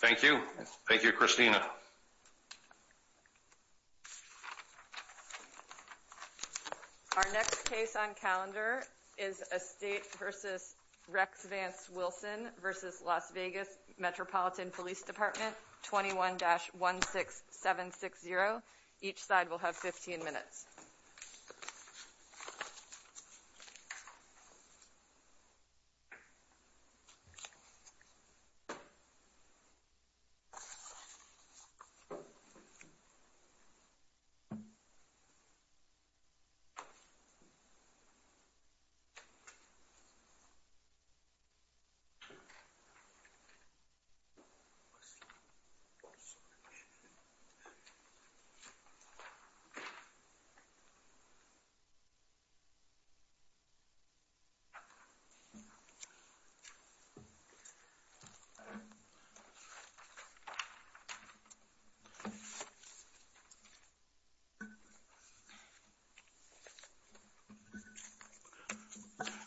Thank you. Thank you, Christina. Our next case on calendar is a state versus Rex Vance Wilson versus Las Vegas Metropolitan Police Department 21-16760. Each side will have 15 minutes.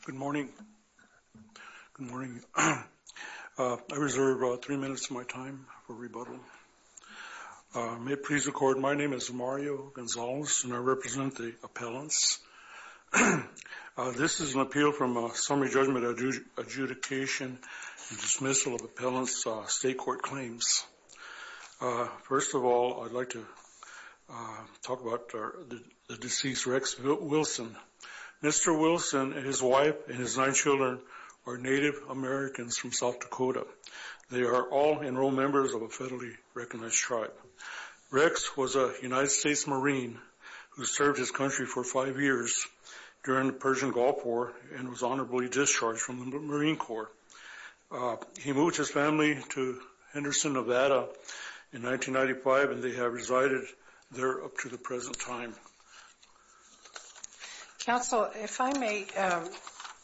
Good morning. Good morning. I reserve three minutes of my time for rebuttal. May it please the court, my name is Mario Gonzalez and I represent the appellants. This is an appeal from a summary judgment adjudication and dismissal of appellants' state court claims. First of all, I'd like to talk about the deceased Rex Wilson. Mr. Wilson and his wife and his nine children are Native Americans from South Dakota. They are all enrolled members of a federally recognized tribe. Rex was a United States Marine who served his country for five years during the Persian Gulf War and was honorably discharged from the Marine Corps. He moved his family to Henderson, Nevada in 1995 and they have resided there up to the present time. Counsel, if I may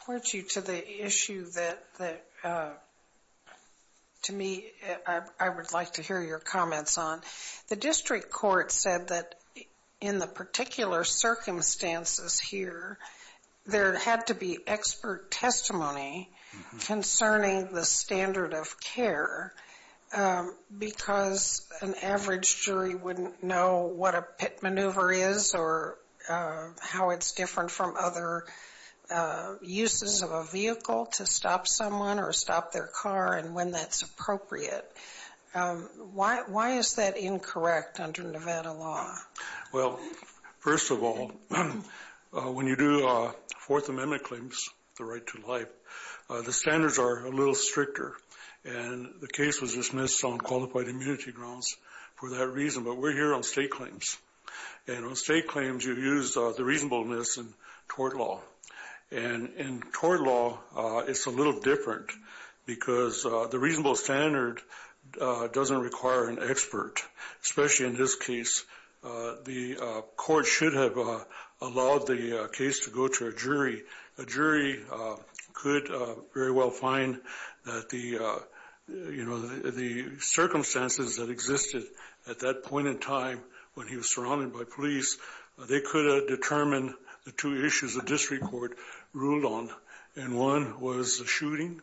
point you to the issue that to me I would like to hear your comments on. The district court said that in the particular circumstances here, there had to be expert testimony concerning the standard of care because an average jury wouldn't know what a pit maneuver is or how it's different from other uses of a vehicle to stop someone or stop their car and when that's appropriate. Why is that incorrect under Nevada law? Well, first of all, when you do Fourth Amendment claims, the right to life, the standards are a little stricter and the case was dismissed on qualified immunity grounds for that reason, but we're here on state claims and on state claims you use the reasonableness in tort law and in tort law it's a little different because the reasonable standard doesn't require an expert, especially in this case. The court should have allowed the case to go to a jury. A jury could very well find that the circumstances that existed at that point in time when he was surrounded by police, they could have determined the two issues the district court ruled on and one was a shooting,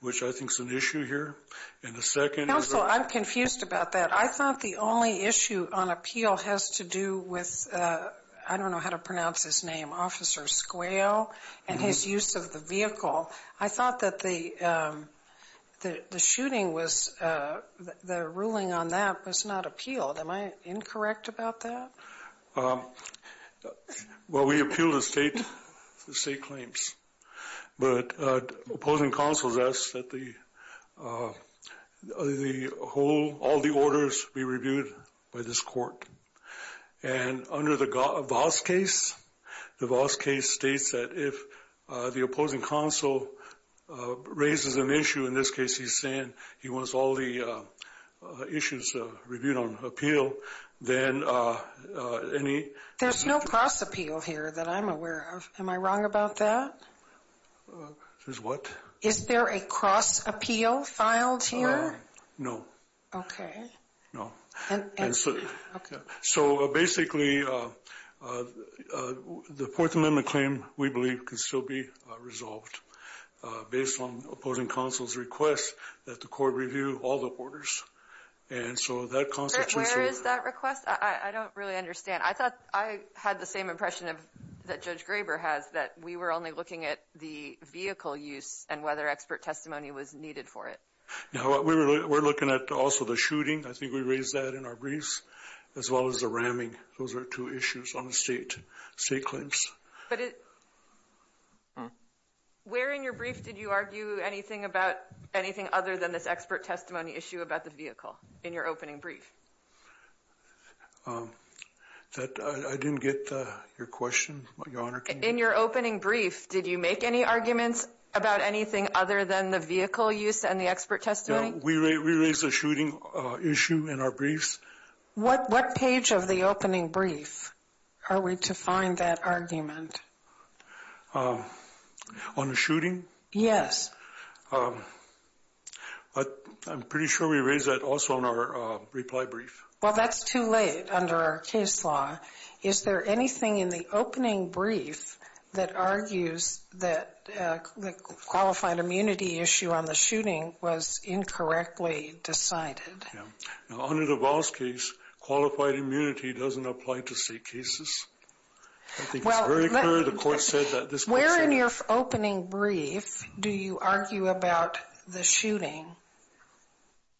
which I think is an issue here, and the second is a... Counsel, I'm confused about that. I thought the only issue on appeal has to do with, I don't know how to pronounce his name, Officer Squale and his use of the vehicle. I thought that the shooting was, the ruling on that was not appealed. Am I incorrect about that? Well, we appeal the state claims, but opposing counsels ask that all the orders be reviewed by this court and under the Voss case, the Voss case states that if the opposing counsel raises an issue, in this case he's saying he wants all the issues reviewed on appeal, then any... There's no cross appeal here that I'm aware of. Am I wrong about that? There's what? Is there a cross appeal filed here? No. Okay. No. Okay. So basically, the Fourth Amendment claim, we believe, can still be resolved based on opposing counsel's request that the court review all the orders. And so that constitutes... Where is that request? I don't really understand. I thought I had the same impression that Judge Graber has, that we were only looking at the vehicle use and whether expert testimony was needed for it. No. We're looking at also the shooting. I think we raised that in our briefs, as well as the ramming. Those are two issues on the state claims. But where in your brief did you argue anything about anything other than this expert testimony issue about the vehicle in your opening brief? I didn't get your question, Your Honor. In your opening brief, did you make any arguments about anything other than the vehicle use and the expert testimony? No. We raised the shooting issue in our briefs. What page of the opening brief are we to find that argument? On the shooting? Yes. I'm pretty sure we raised that also in our reply brief. Well, that's too late under our case law. Is there anything in the opening brief that argues that the qualified immunity issue on the shooting was incorrectly decided? Yeah. Now, under the Voss case, qualified immunity doesn't apply to state cases. I think it's very clear the court said that. Where in your opening brief do you argue about the shooting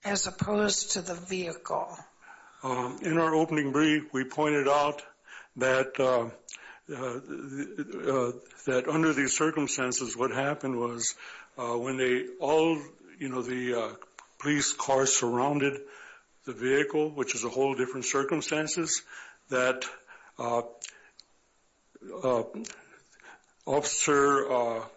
as opposed to the vehicle? In our opening brief, we pointed out that under these circumstances, what happened was when the police car surrounded the vehicle, which is a whole different circumstances, that Officer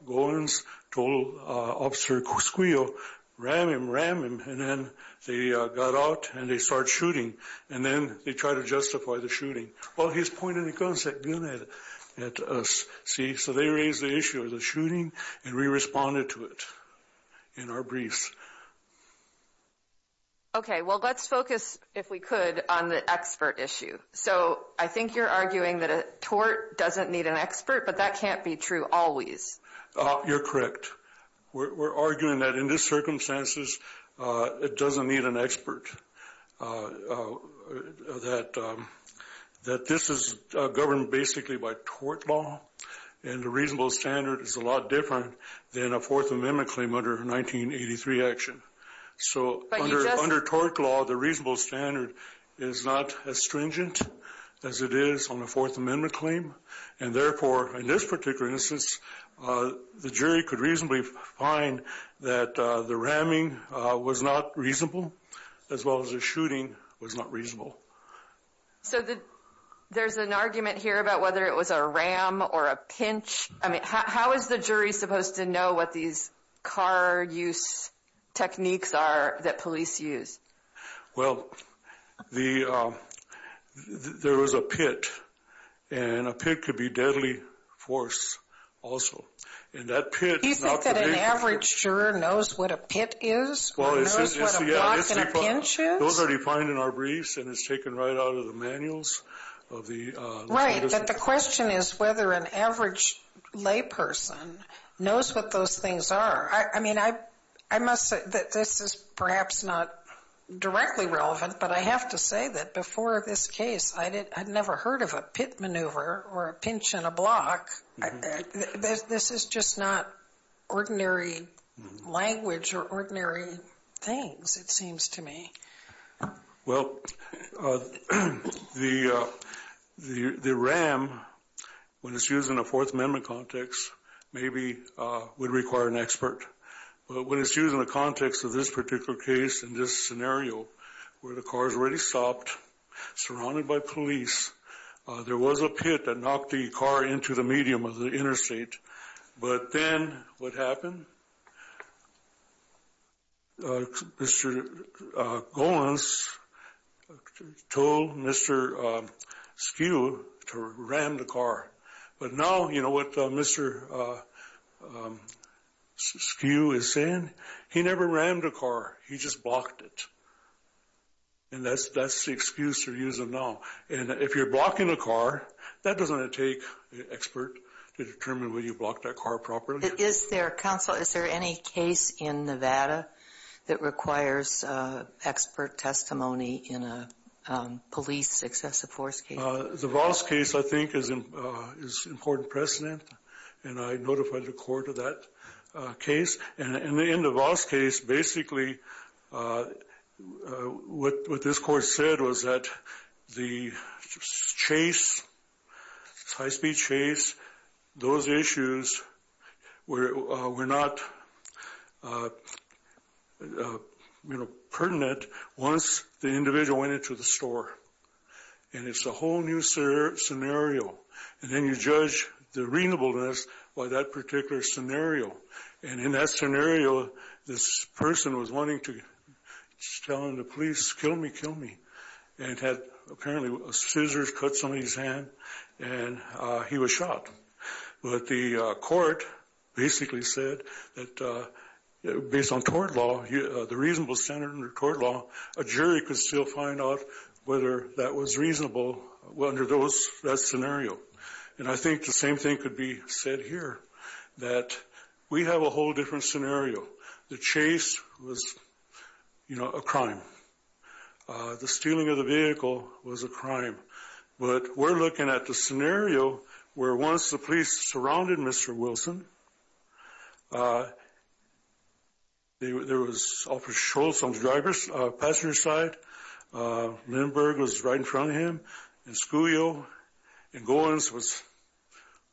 Gowans told Officer Cusquillo, ram him, ram him, and then they got out and they started shooting. And then they tried to justify the shooting. Well, he's pointing a gun at us, see? So they raised the issue of the shooting, and we responded to it in our briefs. Okay. Well, let's focus, if we could, on the expert issue. So I think you're arguing that a tort doesn't need an expert, but that can't be true always. You're correct. We're arguing that in these circumstances, it doesn't need an expert, that this is governed basically by tort law, and the reasonable standard is a lot different than a Fourth Amendment claim under 1983 action. So under tort law, the reasonable standard is not as stringent as it is on a Fourth Amendment claim, and therefore, in this particular instance, the jury could reasonably find that the ramming was not reasonable, as well as the shooting was not reasonable. So there's an argument here about whether it was a ram or a pinch. I mean, how is the jury supposed to know what these car use techniques are that police use? Well, there was a pit, and a pit could be deadly force also. Do you think that an average juror knows what a pit is or knows what a block and a pinch is? Those are defined in our briefs, and it's taken right out of the manuals. Right, but the question is whether an average layperson knows what those things are. I mean, I must say that this is perhaps not directly relevant, but I have to say that before this case, I'd never heard of a pit maneuver or a pinch and a block. This is just not ordinary language or ordinary things, it seems to me. Well, the ram, when it's used in a Fourth Amendment context, maybe would require an expert. But when it's used in the context of this particular case, in this scenario, where the car's already stopped, surrounded by police, there was a pit that knocked the car into the medium of the interstate. But then what happened? Mr. Golancz told Mr. Skew to ram the car. But now, you know what Mr. Skew is saying? He never rammed the car, he just blocked it. And that's the excuse they're using now. And if you're blocking a car, that doesn't take an expert to determine whether you blocked that car properly. Counsel, is there any case in Nevada that requires expert testimony in a police excessive force case? The Voss case, I think, is important precedent, and I notified the court of that case. And in the Voss case, basically, what this court said was that the chase, high-speed chase, those issues were not pertinent once the individual went into the store. And it's a whole new scenario. And then you judge the reasonableness by that particular scenario. And in that scenario, this person was wanting to tell the police, kill me, kill me. And it had, apparently, scissors cut somebody's hand, and he was shot. But the court basically said that based on court law, the reasonable standard under court law, a jury could still find out whether that was reasonable under that scenario. And I think the same thing could be said here, that we have a whole different scenario. The chase was, you know, a crime. The stealing of the vehicle was a crime. But we're looking at the scenario where once the police surrounded Mr. Wilson, there was Officer Schultz on the driver's passenger side. Lindbergh was right in front of him. And Scuglio and Gowans was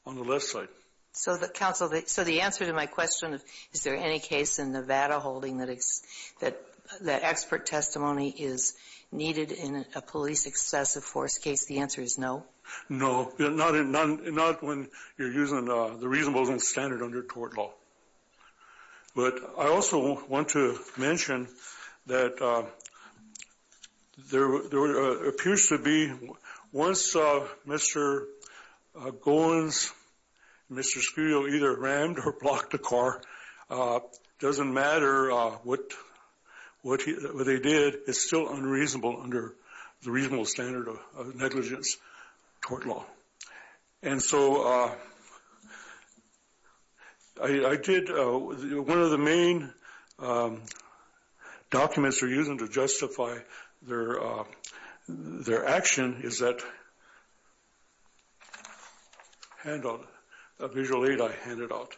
on the left side. So, Counsel, so the answer to my question of is there any case in Nevada holding that expert testimony is needed in a police excessive force case, the answer is no. No, not when you're using the reasonable standard under court law. But I also want to mention that there appears to be, once Mr. Gowans, Mr. Scuglio, either rammed or blocked the car, doesn't matter what they did, it's still unreasonable under the reasonable standard of negligence court law. And so I did, one of the main documents they're using to justify their action is that handout, a visual aid I handed out.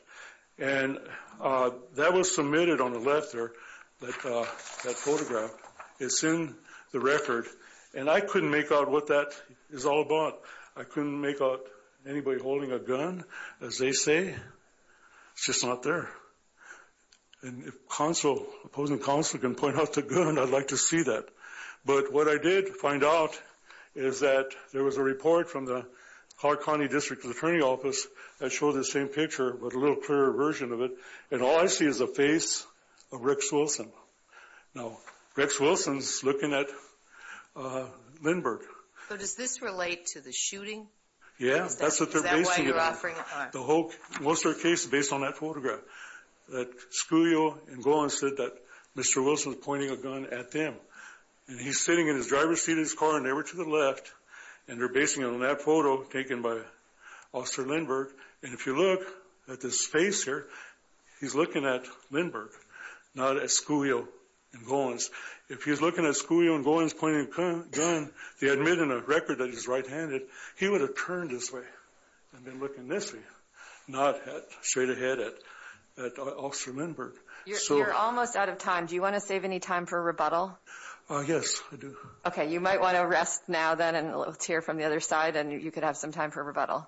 And that was submitted on the left there, that photograph. It's in the record. And I couldn't make out what that is all about. I couldn't make out anybody holding a gun, as they say. It's just not there. And if Counsel, opposing Counsel can point out the gun, I'd like to see that. But what I did find out is that there was a report from the Clark County District Attorney's Office that showed the same picture, but a little clearer version of it. And all I see is the face of Rex Wilson. Now, Rex Wilson's looking at Lindbergh. So does this relate to the shooting? Yeah, that's what they're basing it on. Is that why you're offering it on? The whole Wilster case is based on that photograph. That Scuglio and Gowans said that Mr. Wilson was pointing a gun at them. And he's sitting in his driver's seat of his car, and they were to the left. And they're basing it on that photo taken by Officer Lindbergh. And if you look at this face here, he's looking at Lindbergh, not at Scuglio and Gowans. If he was looking at Scuglio and Gowans pointing a gun, they admit in the record that he's right-handed, he would have turned this way and been looking this way, not straight ahead at Officer Lindbergh. You're almost out of time. Do you want to save any time for a rebuttal? Yes, I do. Okay, you might want to rest now then and let's hear from the other side, and you could have some time for a rebuttal.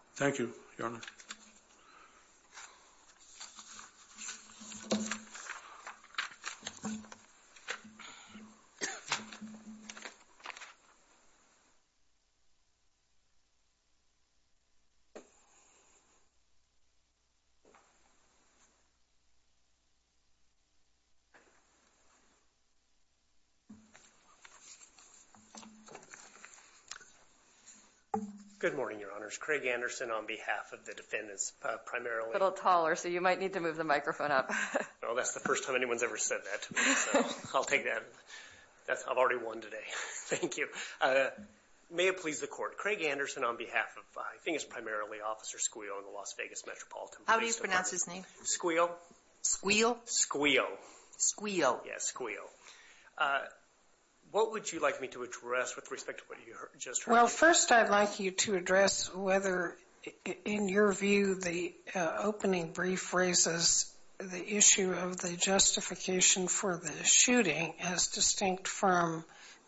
Good morning, Your Honors. Craig Anderson on behalf of the defendants, primarily. A little taller, so you might need to move the microphone up. Well, that's the first time anyone's ever said that to me, so I'll take that. I've already won today. Thank you. May it please the Court, Craig Anderson on behalf of, I think it's primarily, Officer Scuglio and the Las Vegas Metropolitan Police Department. How do you pronounce his name? Scuglio. Squeal? Scuglio. Squeal. Yes, Scuglio. What would you like me to address with respect to what you just heard? Well, first I'd like you to address whether, in your view, the opening brief raises the issue of the justification for the shooting as distinct from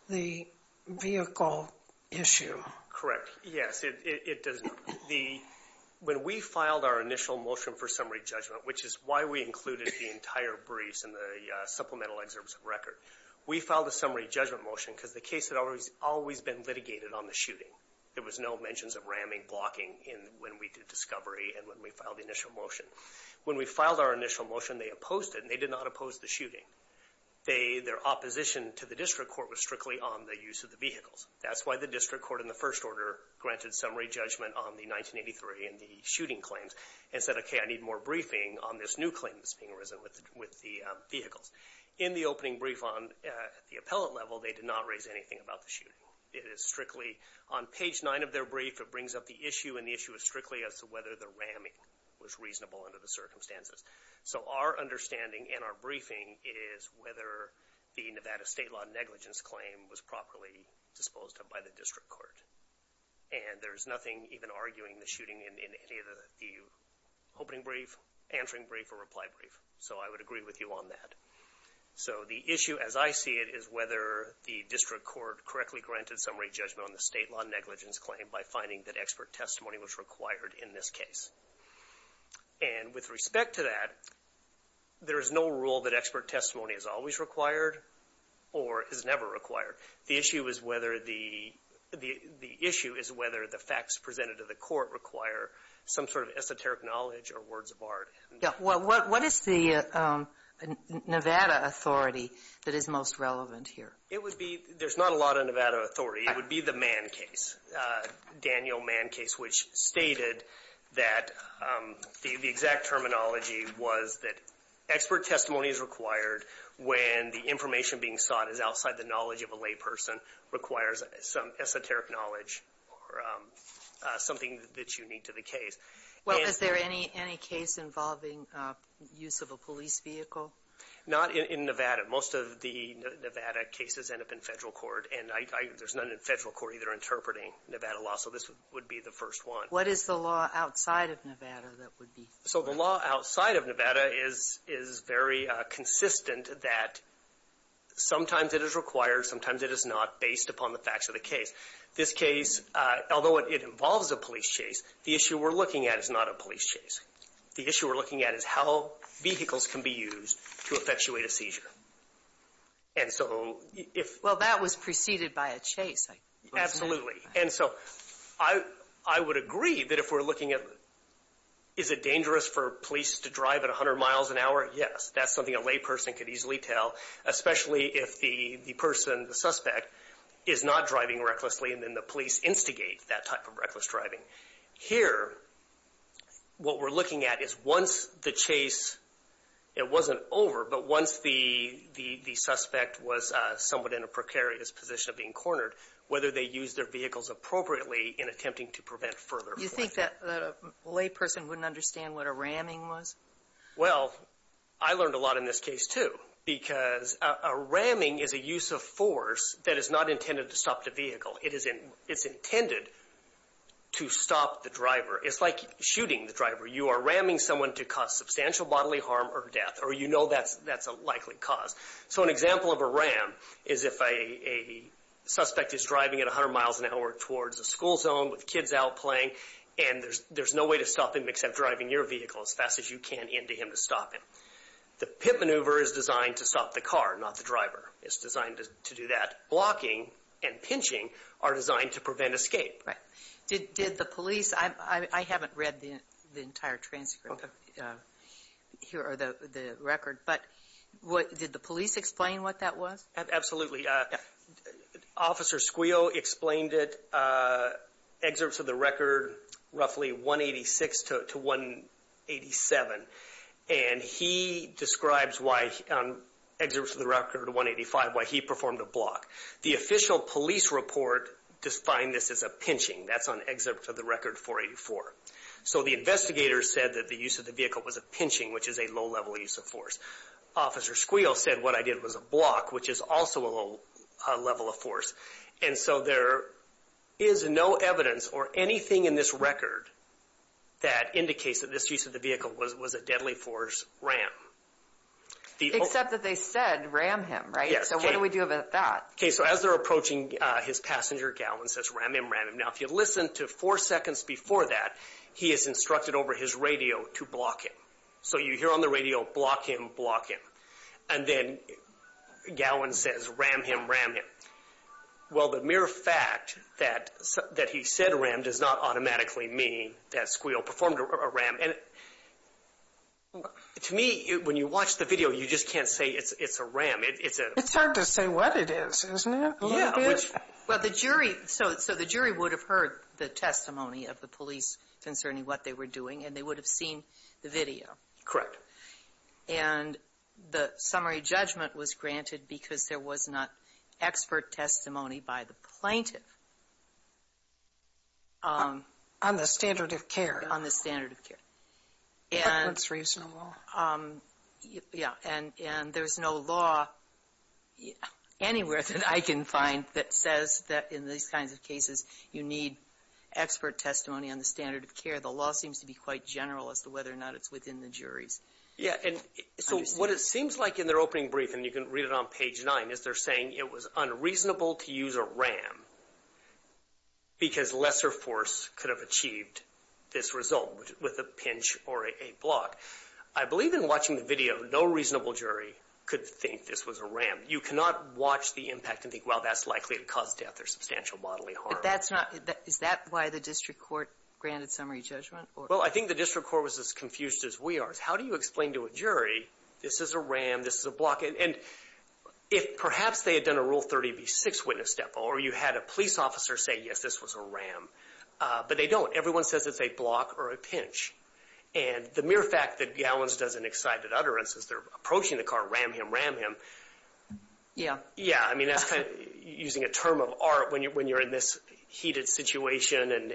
the vehicle issue. Correct. Yes, it does. When we filed our initial motion for summary judgment, which is why we included the entire briefs in the supplemental excerpts of record, we filed a summary judgment motion because the case had always been litigated on the shooting. There was no mentions of ramming, blocking when we did discovery and when we filed the initial motion. When we filed our initial motion, they opposed it, and they did not oppose the shooting. Their opposition to the district court was strictly on the use of the vehicles. That's why the district court, in the first order, granted summary judgment on the 1983 and the shooting claims and said, okay, I need more briefing on this new claim that's being risen with the vehicles. In the opening brief on the appellate level, they did not raise anything about the shooting. It is strictly on page 9 of their brief, it brings up the issue, and the issue is strictly as to whether the ramming was reasonable under the circumstances. So our understanding in our briefing is whether the Nevada state law negligence claim was properly disposed of by the district court. And there's nothing even arguing the shooting in any of the opening brief, answering brief, or reply brief, so I would agree with you on that. So the issue as I see it is whether the district court correctly granted summary judgment on the state law negligence claim by finding that expert testimony was required in this case. And with respect to that, there is no rule that expert testimony is always required or is never required. The issue is whether the facts presented to the court require some sort of esoteric knowledge or words of art. What is the Nevada authority that is most relevant here? There's not a lot of Nevada authority. It would be the Mann case, Daniel Mann case, which stated that the exact terminology was that expert testimony is required when the information being sought is outside the knowledge of a lay person, requires some esoteric knowledge or something that you need to the case. Well, is there any case involving use of a police vehicle? Not in Nevada. Most of the Nevada cases end up in Federal court, and there's none in Federal court either interpreting Nevada law, so this would be the first one. What is the law outside of Nevada that would be? So the law outside of Nevada is very consistent that sometimes it is required, sometimes it is not, based upon the facts of the case. This case, although it involves a police chase, the issue we're looking at is not a police chase. The issue we're looking at is how vehicles can be used to effectuate a seizure. can be used to effectuate a seizure. Is there a risk for police to drive at 100 miles an hour? Yes. That's something a lay person could easily tell, especially if the person, the suspect, is not driving recklessly and then the police instigate that type of reckless driving. Here, what we're looking at is once the chase, it wasn't over, but once the suspect was somewhat in a precarious position of being cornered, whether they used their vehicles appropriately in attempting to prevent further forfeiture. You think that a lay person wouldn't understand what a ramming was? Well, I learned a lot in this case, too, because a ramming is a use of force that is not intended to stop the vehicle. It is intended to stop the driver. It's like shooting the driver. You are ramming someone to cause substantial bodily harm or death, or you know that's a likely cause. So an example of a ram is if a suspect is driving at 100 miles an hour towards a school zone with kids out playing and there's no way to stop him except driving your vehicle as fast as you can into him to stop him. The pit maneuver is designed to stop the car, not the driver. It's designed to do that. Blocking and pinching are designed to prevent escape. Right. Did the police, I haven't read the entire transcript here, or the record, but did the police explain what that was? Absolutely. Officer Squeal explained it, excerpts of the record, roughly 186 to 187, and he describes why, on excerpts of the record 185, why he performed a block. The official police report defined this as a pinching. That's on excerpts of the record 484. So the investigator said that the use of the vehicle was a pinching, which is a low-level use of force. Officer Squeal said what I did was a block, which is also a low level of force. And so there is no evidence or anything in this record that indicates that this use of the vehicle was a deadly force ram. Except that they said ram him, right? Yes. So what do we do about that? Okay, so as they're approaching his passenger, Gallin says, ram him, ram him. Now, if you listen to four seconds before that, he is instructed over his radio to block him. So you hear on the radio, block him, block him. And then Gallin says, ram him, ram him. Well, the mere fact that he said ram does not automatically mean that Squeal performed a ram. And to me, when you watch the video, you just can't say it's a ram. It's a... It's hard to say what it is, isn't it? Yeah. Well, the jury... So the jury would have heard the testimony of the police concerning what they were doing, and they would have seen the video. Correct. And the summary judgment was granted because there was not expert testimony by the plaintiff. On the standard of care. On the standard of care. That's reasonable. Yeah. And there's no law anywhere that I can find that says that in these kinds of cases, you need expert testimony on the standard of care. The law seems to be quite general as to whether or not it's within the jury's understanding. Yeah. And so what it seems like in their opening brief, and you can read it on page 9, is they're saying it was unreasonable to use a ram because lesser force could have achieved this result with a pinch or a block. I believe in watching the video, no reasonable jury could think this was a ram. You cannot watch the impact and think, well, that's likely to cause death or substantial bodily harm. Is that why the district court granted summary judgment? Well, I think the district court was as confused as we are. How do you explain to a jury, this is a ram, this is a block? And if perhaps they had done a Rule 30b-6 witness step or you had a police officer say, yes, this was a ram, but they don't. Everyone says it's a block or a pinch. And the mere fact that Gallens does an excited utterance as they're approaching the car, ram him, ram him. Yeah. Yeah, I mean, that's kind of using a term of art when you're in this heated situation. And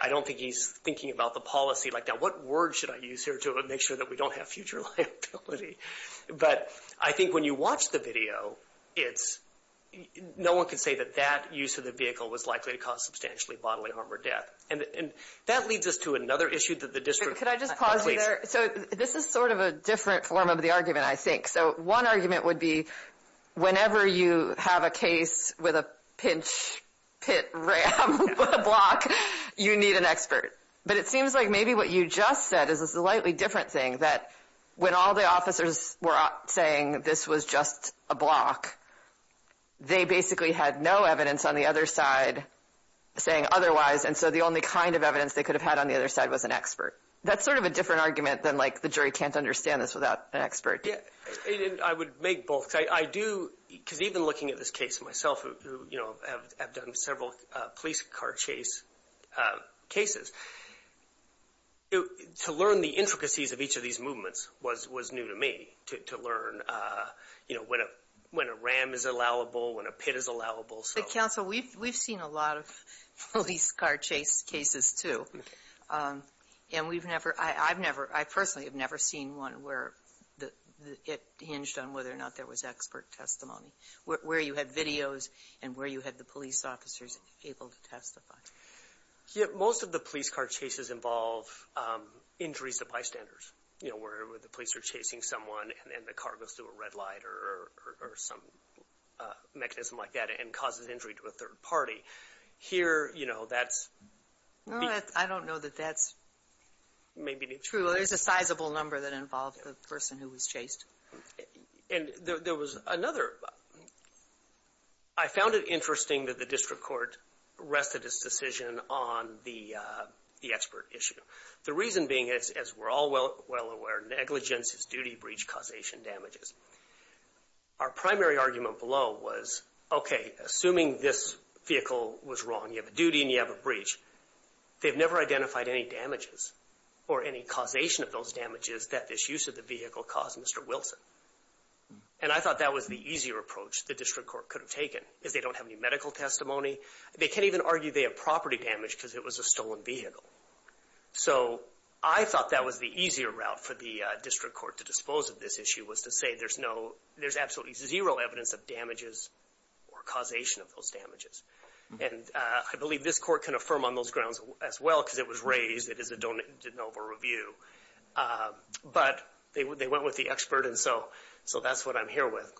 I don't think he's thinking about the policy like that. What word should I use here to make sure that we don't have future liability? But I think when you watch the video, it's no one can say that that use of the vehicle was likely to cause substantially bodily harm or death. And that leads us to another issue that the district. Could I just pause you there? So this is sort of a different form of the argument, I think. So one argument would be whenever you have a case with a pinch, pit, ram, block, you need an expert. But it seems like maybe what you just said is a slightly different thing, that when all the officers were saying this was just a block, they basically had no evidence on the other side saying otherwise. And so the only kind of evidence they could have had on the other side was an expert. That's sort of a different argument than like the jury can't understand this without an expert. Yeah. And I would make both. I do, because even looking at this case myself, you know, I've done several police car chase cases. To learn the intricacies of each of these movements was new to me, to learn, you know, when a ram is allowable, when a pit is allowable. But, counsel, we've seen a lot of police car chase cases, too. And we've never, I've never, I personally have never seen one where it hinged on whether or not there was expert testimony, where you had videos and where you had the police officers able to testify. Most of the police car chases involve injuries to bystanders. You know, where the police are chasing someone and the car goes through a red light or some mechanism like that and causes injury to a third party. Here, you know, that's. I don't know that that's. Maybe. True. There's a sizable number that involved a person who was chased. And there was another, I found it interesting that the district court rested its decision on the expert issue. The reason being, as we're all well aware, negligence is duty breach causation damages. Our primary argument below was, okay, assuming this vehicle was wrong, you have a duty and you have a breach. They've never identified any damages or any causation of those damages that this use of the vehicle caused Mr. Wilson. And I thought that was the easier approach the district court could have taken, is they don't have any medical testimony. They can't even argue they have property damage because it was a stolen vehicle. So, I thought that was the easier route for the district court to dispose of this issue was to say there's no, there's absolutely zero evidence of damages or causation of those damages. And I believe this court can affirm on those grounds as well because it was raised, it is a de novo review. But they went with the expert and so that's what I'm here with.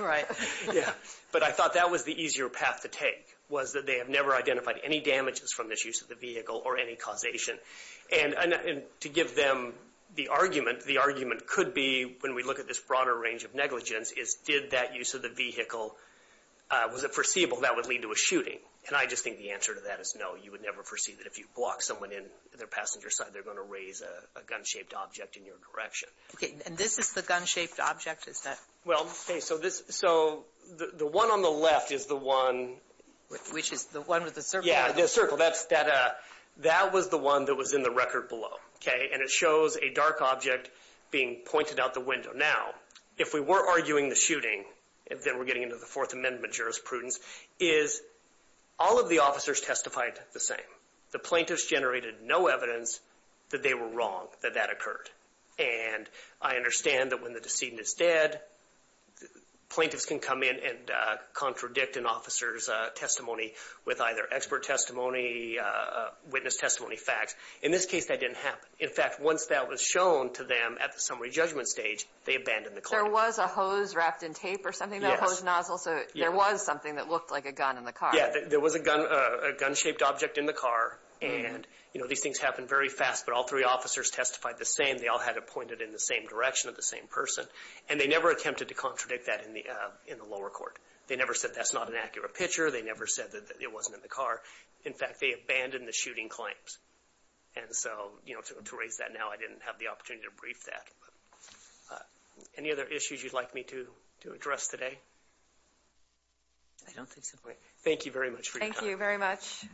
Right. Yeah. But I thought that was the easier path to take, was that they have never identified any damages from this use of the vehicle or any causation. And to give them the argument, the argument could be when we look at this broader range of negligence is did that use of the vehicle, was it foreseeable that would lead to a shooting? And I just think the answer to that is no. You would never foresee that if you block someone in their passenger side they're going to raise a gun-shaped object in your direction. Okay. And this is the gun-shaped object? Is that? Well, okay. So, the one on the left is the one. Which is the one with the circle? Yeah, the circle. So, that was the one that was in the record below. Okay. And it shows a dark object being pointed out the window. Now, if we were arguing the shooting, then we're getting into the Fourth Amendment jurisprudence, is all of the officers testified the same. The plaintiffs generated no evidence that they were wrong, that that occurred. And I understand that when the decedent is dead, plaintiffs can come in and witness testimony facts. In this case, that didn't happen. In fact, once that was shown to them at the summary judgment stage, they abandoned the claim. There was a hose wrapped in tape or something, though? Yes. A hose nozzle. So, there was something that looked like a gun in the car. Yeah, there was a gun-shaped object in the car. And, you know, these things happen very fast. But all three officers testified the same. They all had it pointed in the same direction of the same person. And they never attempted to contradict that in the lower court. They never said that's not an accurate picture. They never said that it wasn't in the car. In fact, they abandoned the shooting claims. And so, you know, to raise that now, I didn't have the opportunity to brief that. Any other issues you'd like me to address today? I don't think so. Thank you very much for your time. Thank you very much.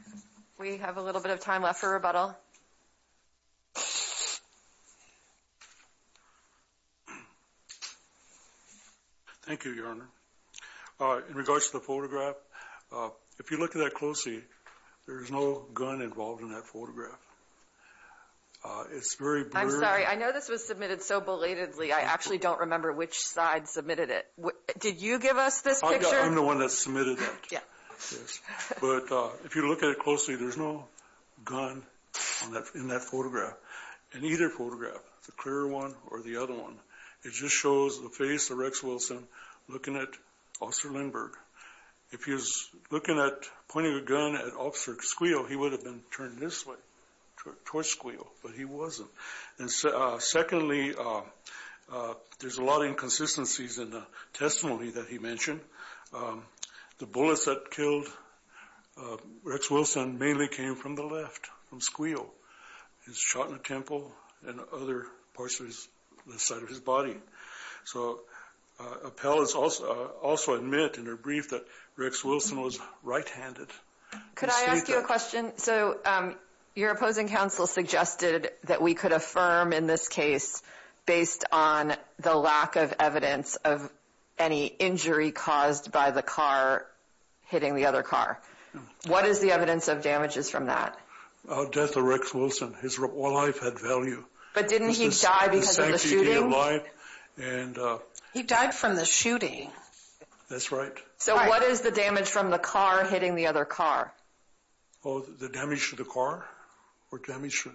We have a little bit of time left for rebuttal. Thank you, Your Honor. In regards to the photograph, if you look at that closely, there is no gun involved in that photograph. It's very blurry. I'm sorry. I know this was submitted so belatedly, I actually don't remember which side submitted it. Did you give us this picture? I'm the one that submitted that. But if you look at it closely, there's no gun in that photograph, in either photograph, the clear one or the other one. It just shows the face of Rex Wilson looking at Officer Lindbergh. If he was looking at pointing a gun at Officer Squeal, he would have been turned this way towards Squeal, but he wasn't. And secondly, there's a lot of inconsistencies in the testimony that he mentioned. The bullets that killed Rex Wilson mainly came from the left, from Squeal. He was shot in the temple and other parts of his body. So appellants also admit in their brief that Rex Wilson was right-handed. Could I ask you a question? So your opposing counsel suggested that we could affirm in this case based on the lack of evidence of any injury caused by the car hitting the other car. What is the evidence of damages from that? The death of Rex Wilson, his life had value. But didn't he die because of the shooting? He died from the shooting. That's right. So what is the damage from the car hitting the other car? Oh, the damage to the car?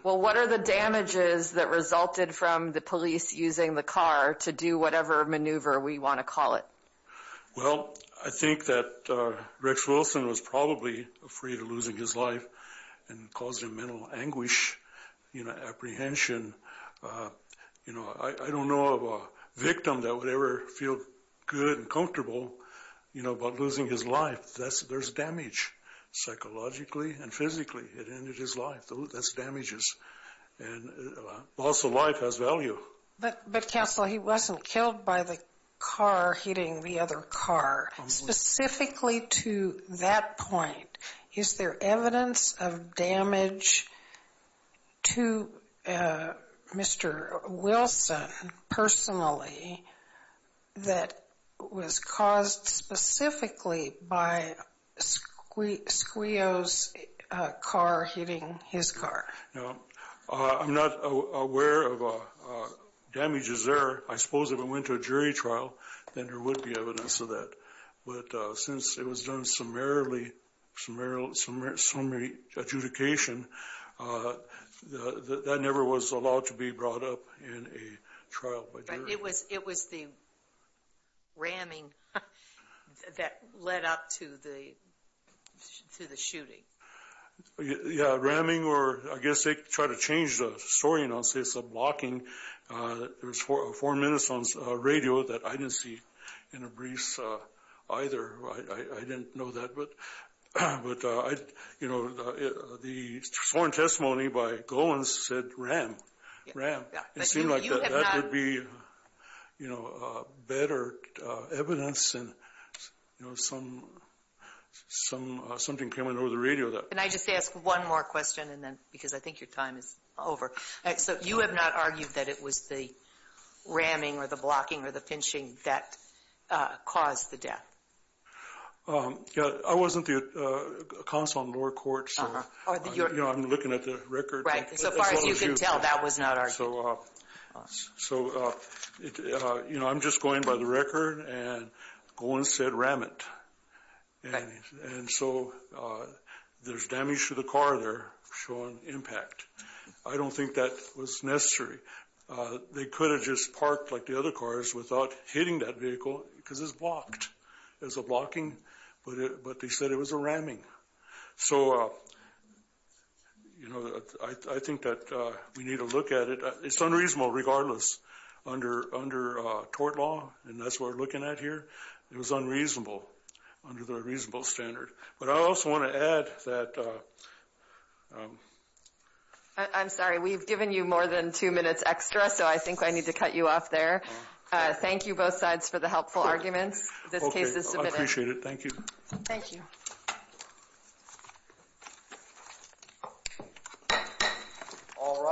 Well, what are the damages that resulted from the police using the car to do whatever maneuver we want to call it? Well, I think that Rex Wilson was probably afraid of losing his life and caused him mental anguish, apprehension. I don't know of a victim that would ever feel good and comfortable about losing his life. There's damage psychologically and physically. It ended his life. That's damages. And also life has value. But counsel, he wasn't killed by the car hitting the other car. Specifically to that point, is there evidence of damage to Mr. Wilson personally that was caused specifically by Squio's car hitting his car? I'm not aware of damages there. I suppose if it went to a jury trial, then there would be evidence of that. But since it was done summarily adjudication, that never was allowed to be brought up in a trial. But it was the ramming that led up to the shooting. Yeah, ramming. I guess they tried to change the story and say it's a blocking. There was four minutes on the radio that I didn't see in a brief either. I didn't know that. But the sworn testimony by Golan said ram. It seemed like that would be better evidence. Something came on over the radio. Can I just ask one more question? Because I think your time is over. You have not argued that it was the ramming or the blocking or the pinching that caused the death? I wasn't the counsel on lower court. I'm looking at the record. As far as you can tell, that was not argued. I'm just going by the record, and Golan said ram it. And so there's damage to the car there showing impact. I don't think that was necessary. They could have just parked like the other cars without hitting that vehicle because it's blocked. It was a blocking, but they said it was a ramming. So, you know, I think that we need to look at it. It's unreasonable regardless under tort law, and that's what we're looking at here. It was unreasonable under the reasonable standard. But I also want to add that ‑‑ I'm sorry. We've given you more than two minutes extra, so I think I need to cut you off there. Thank you, both sides, for the helpful arguments. This case is submitted. I appreciate it. Thank you. Thank you. All rise.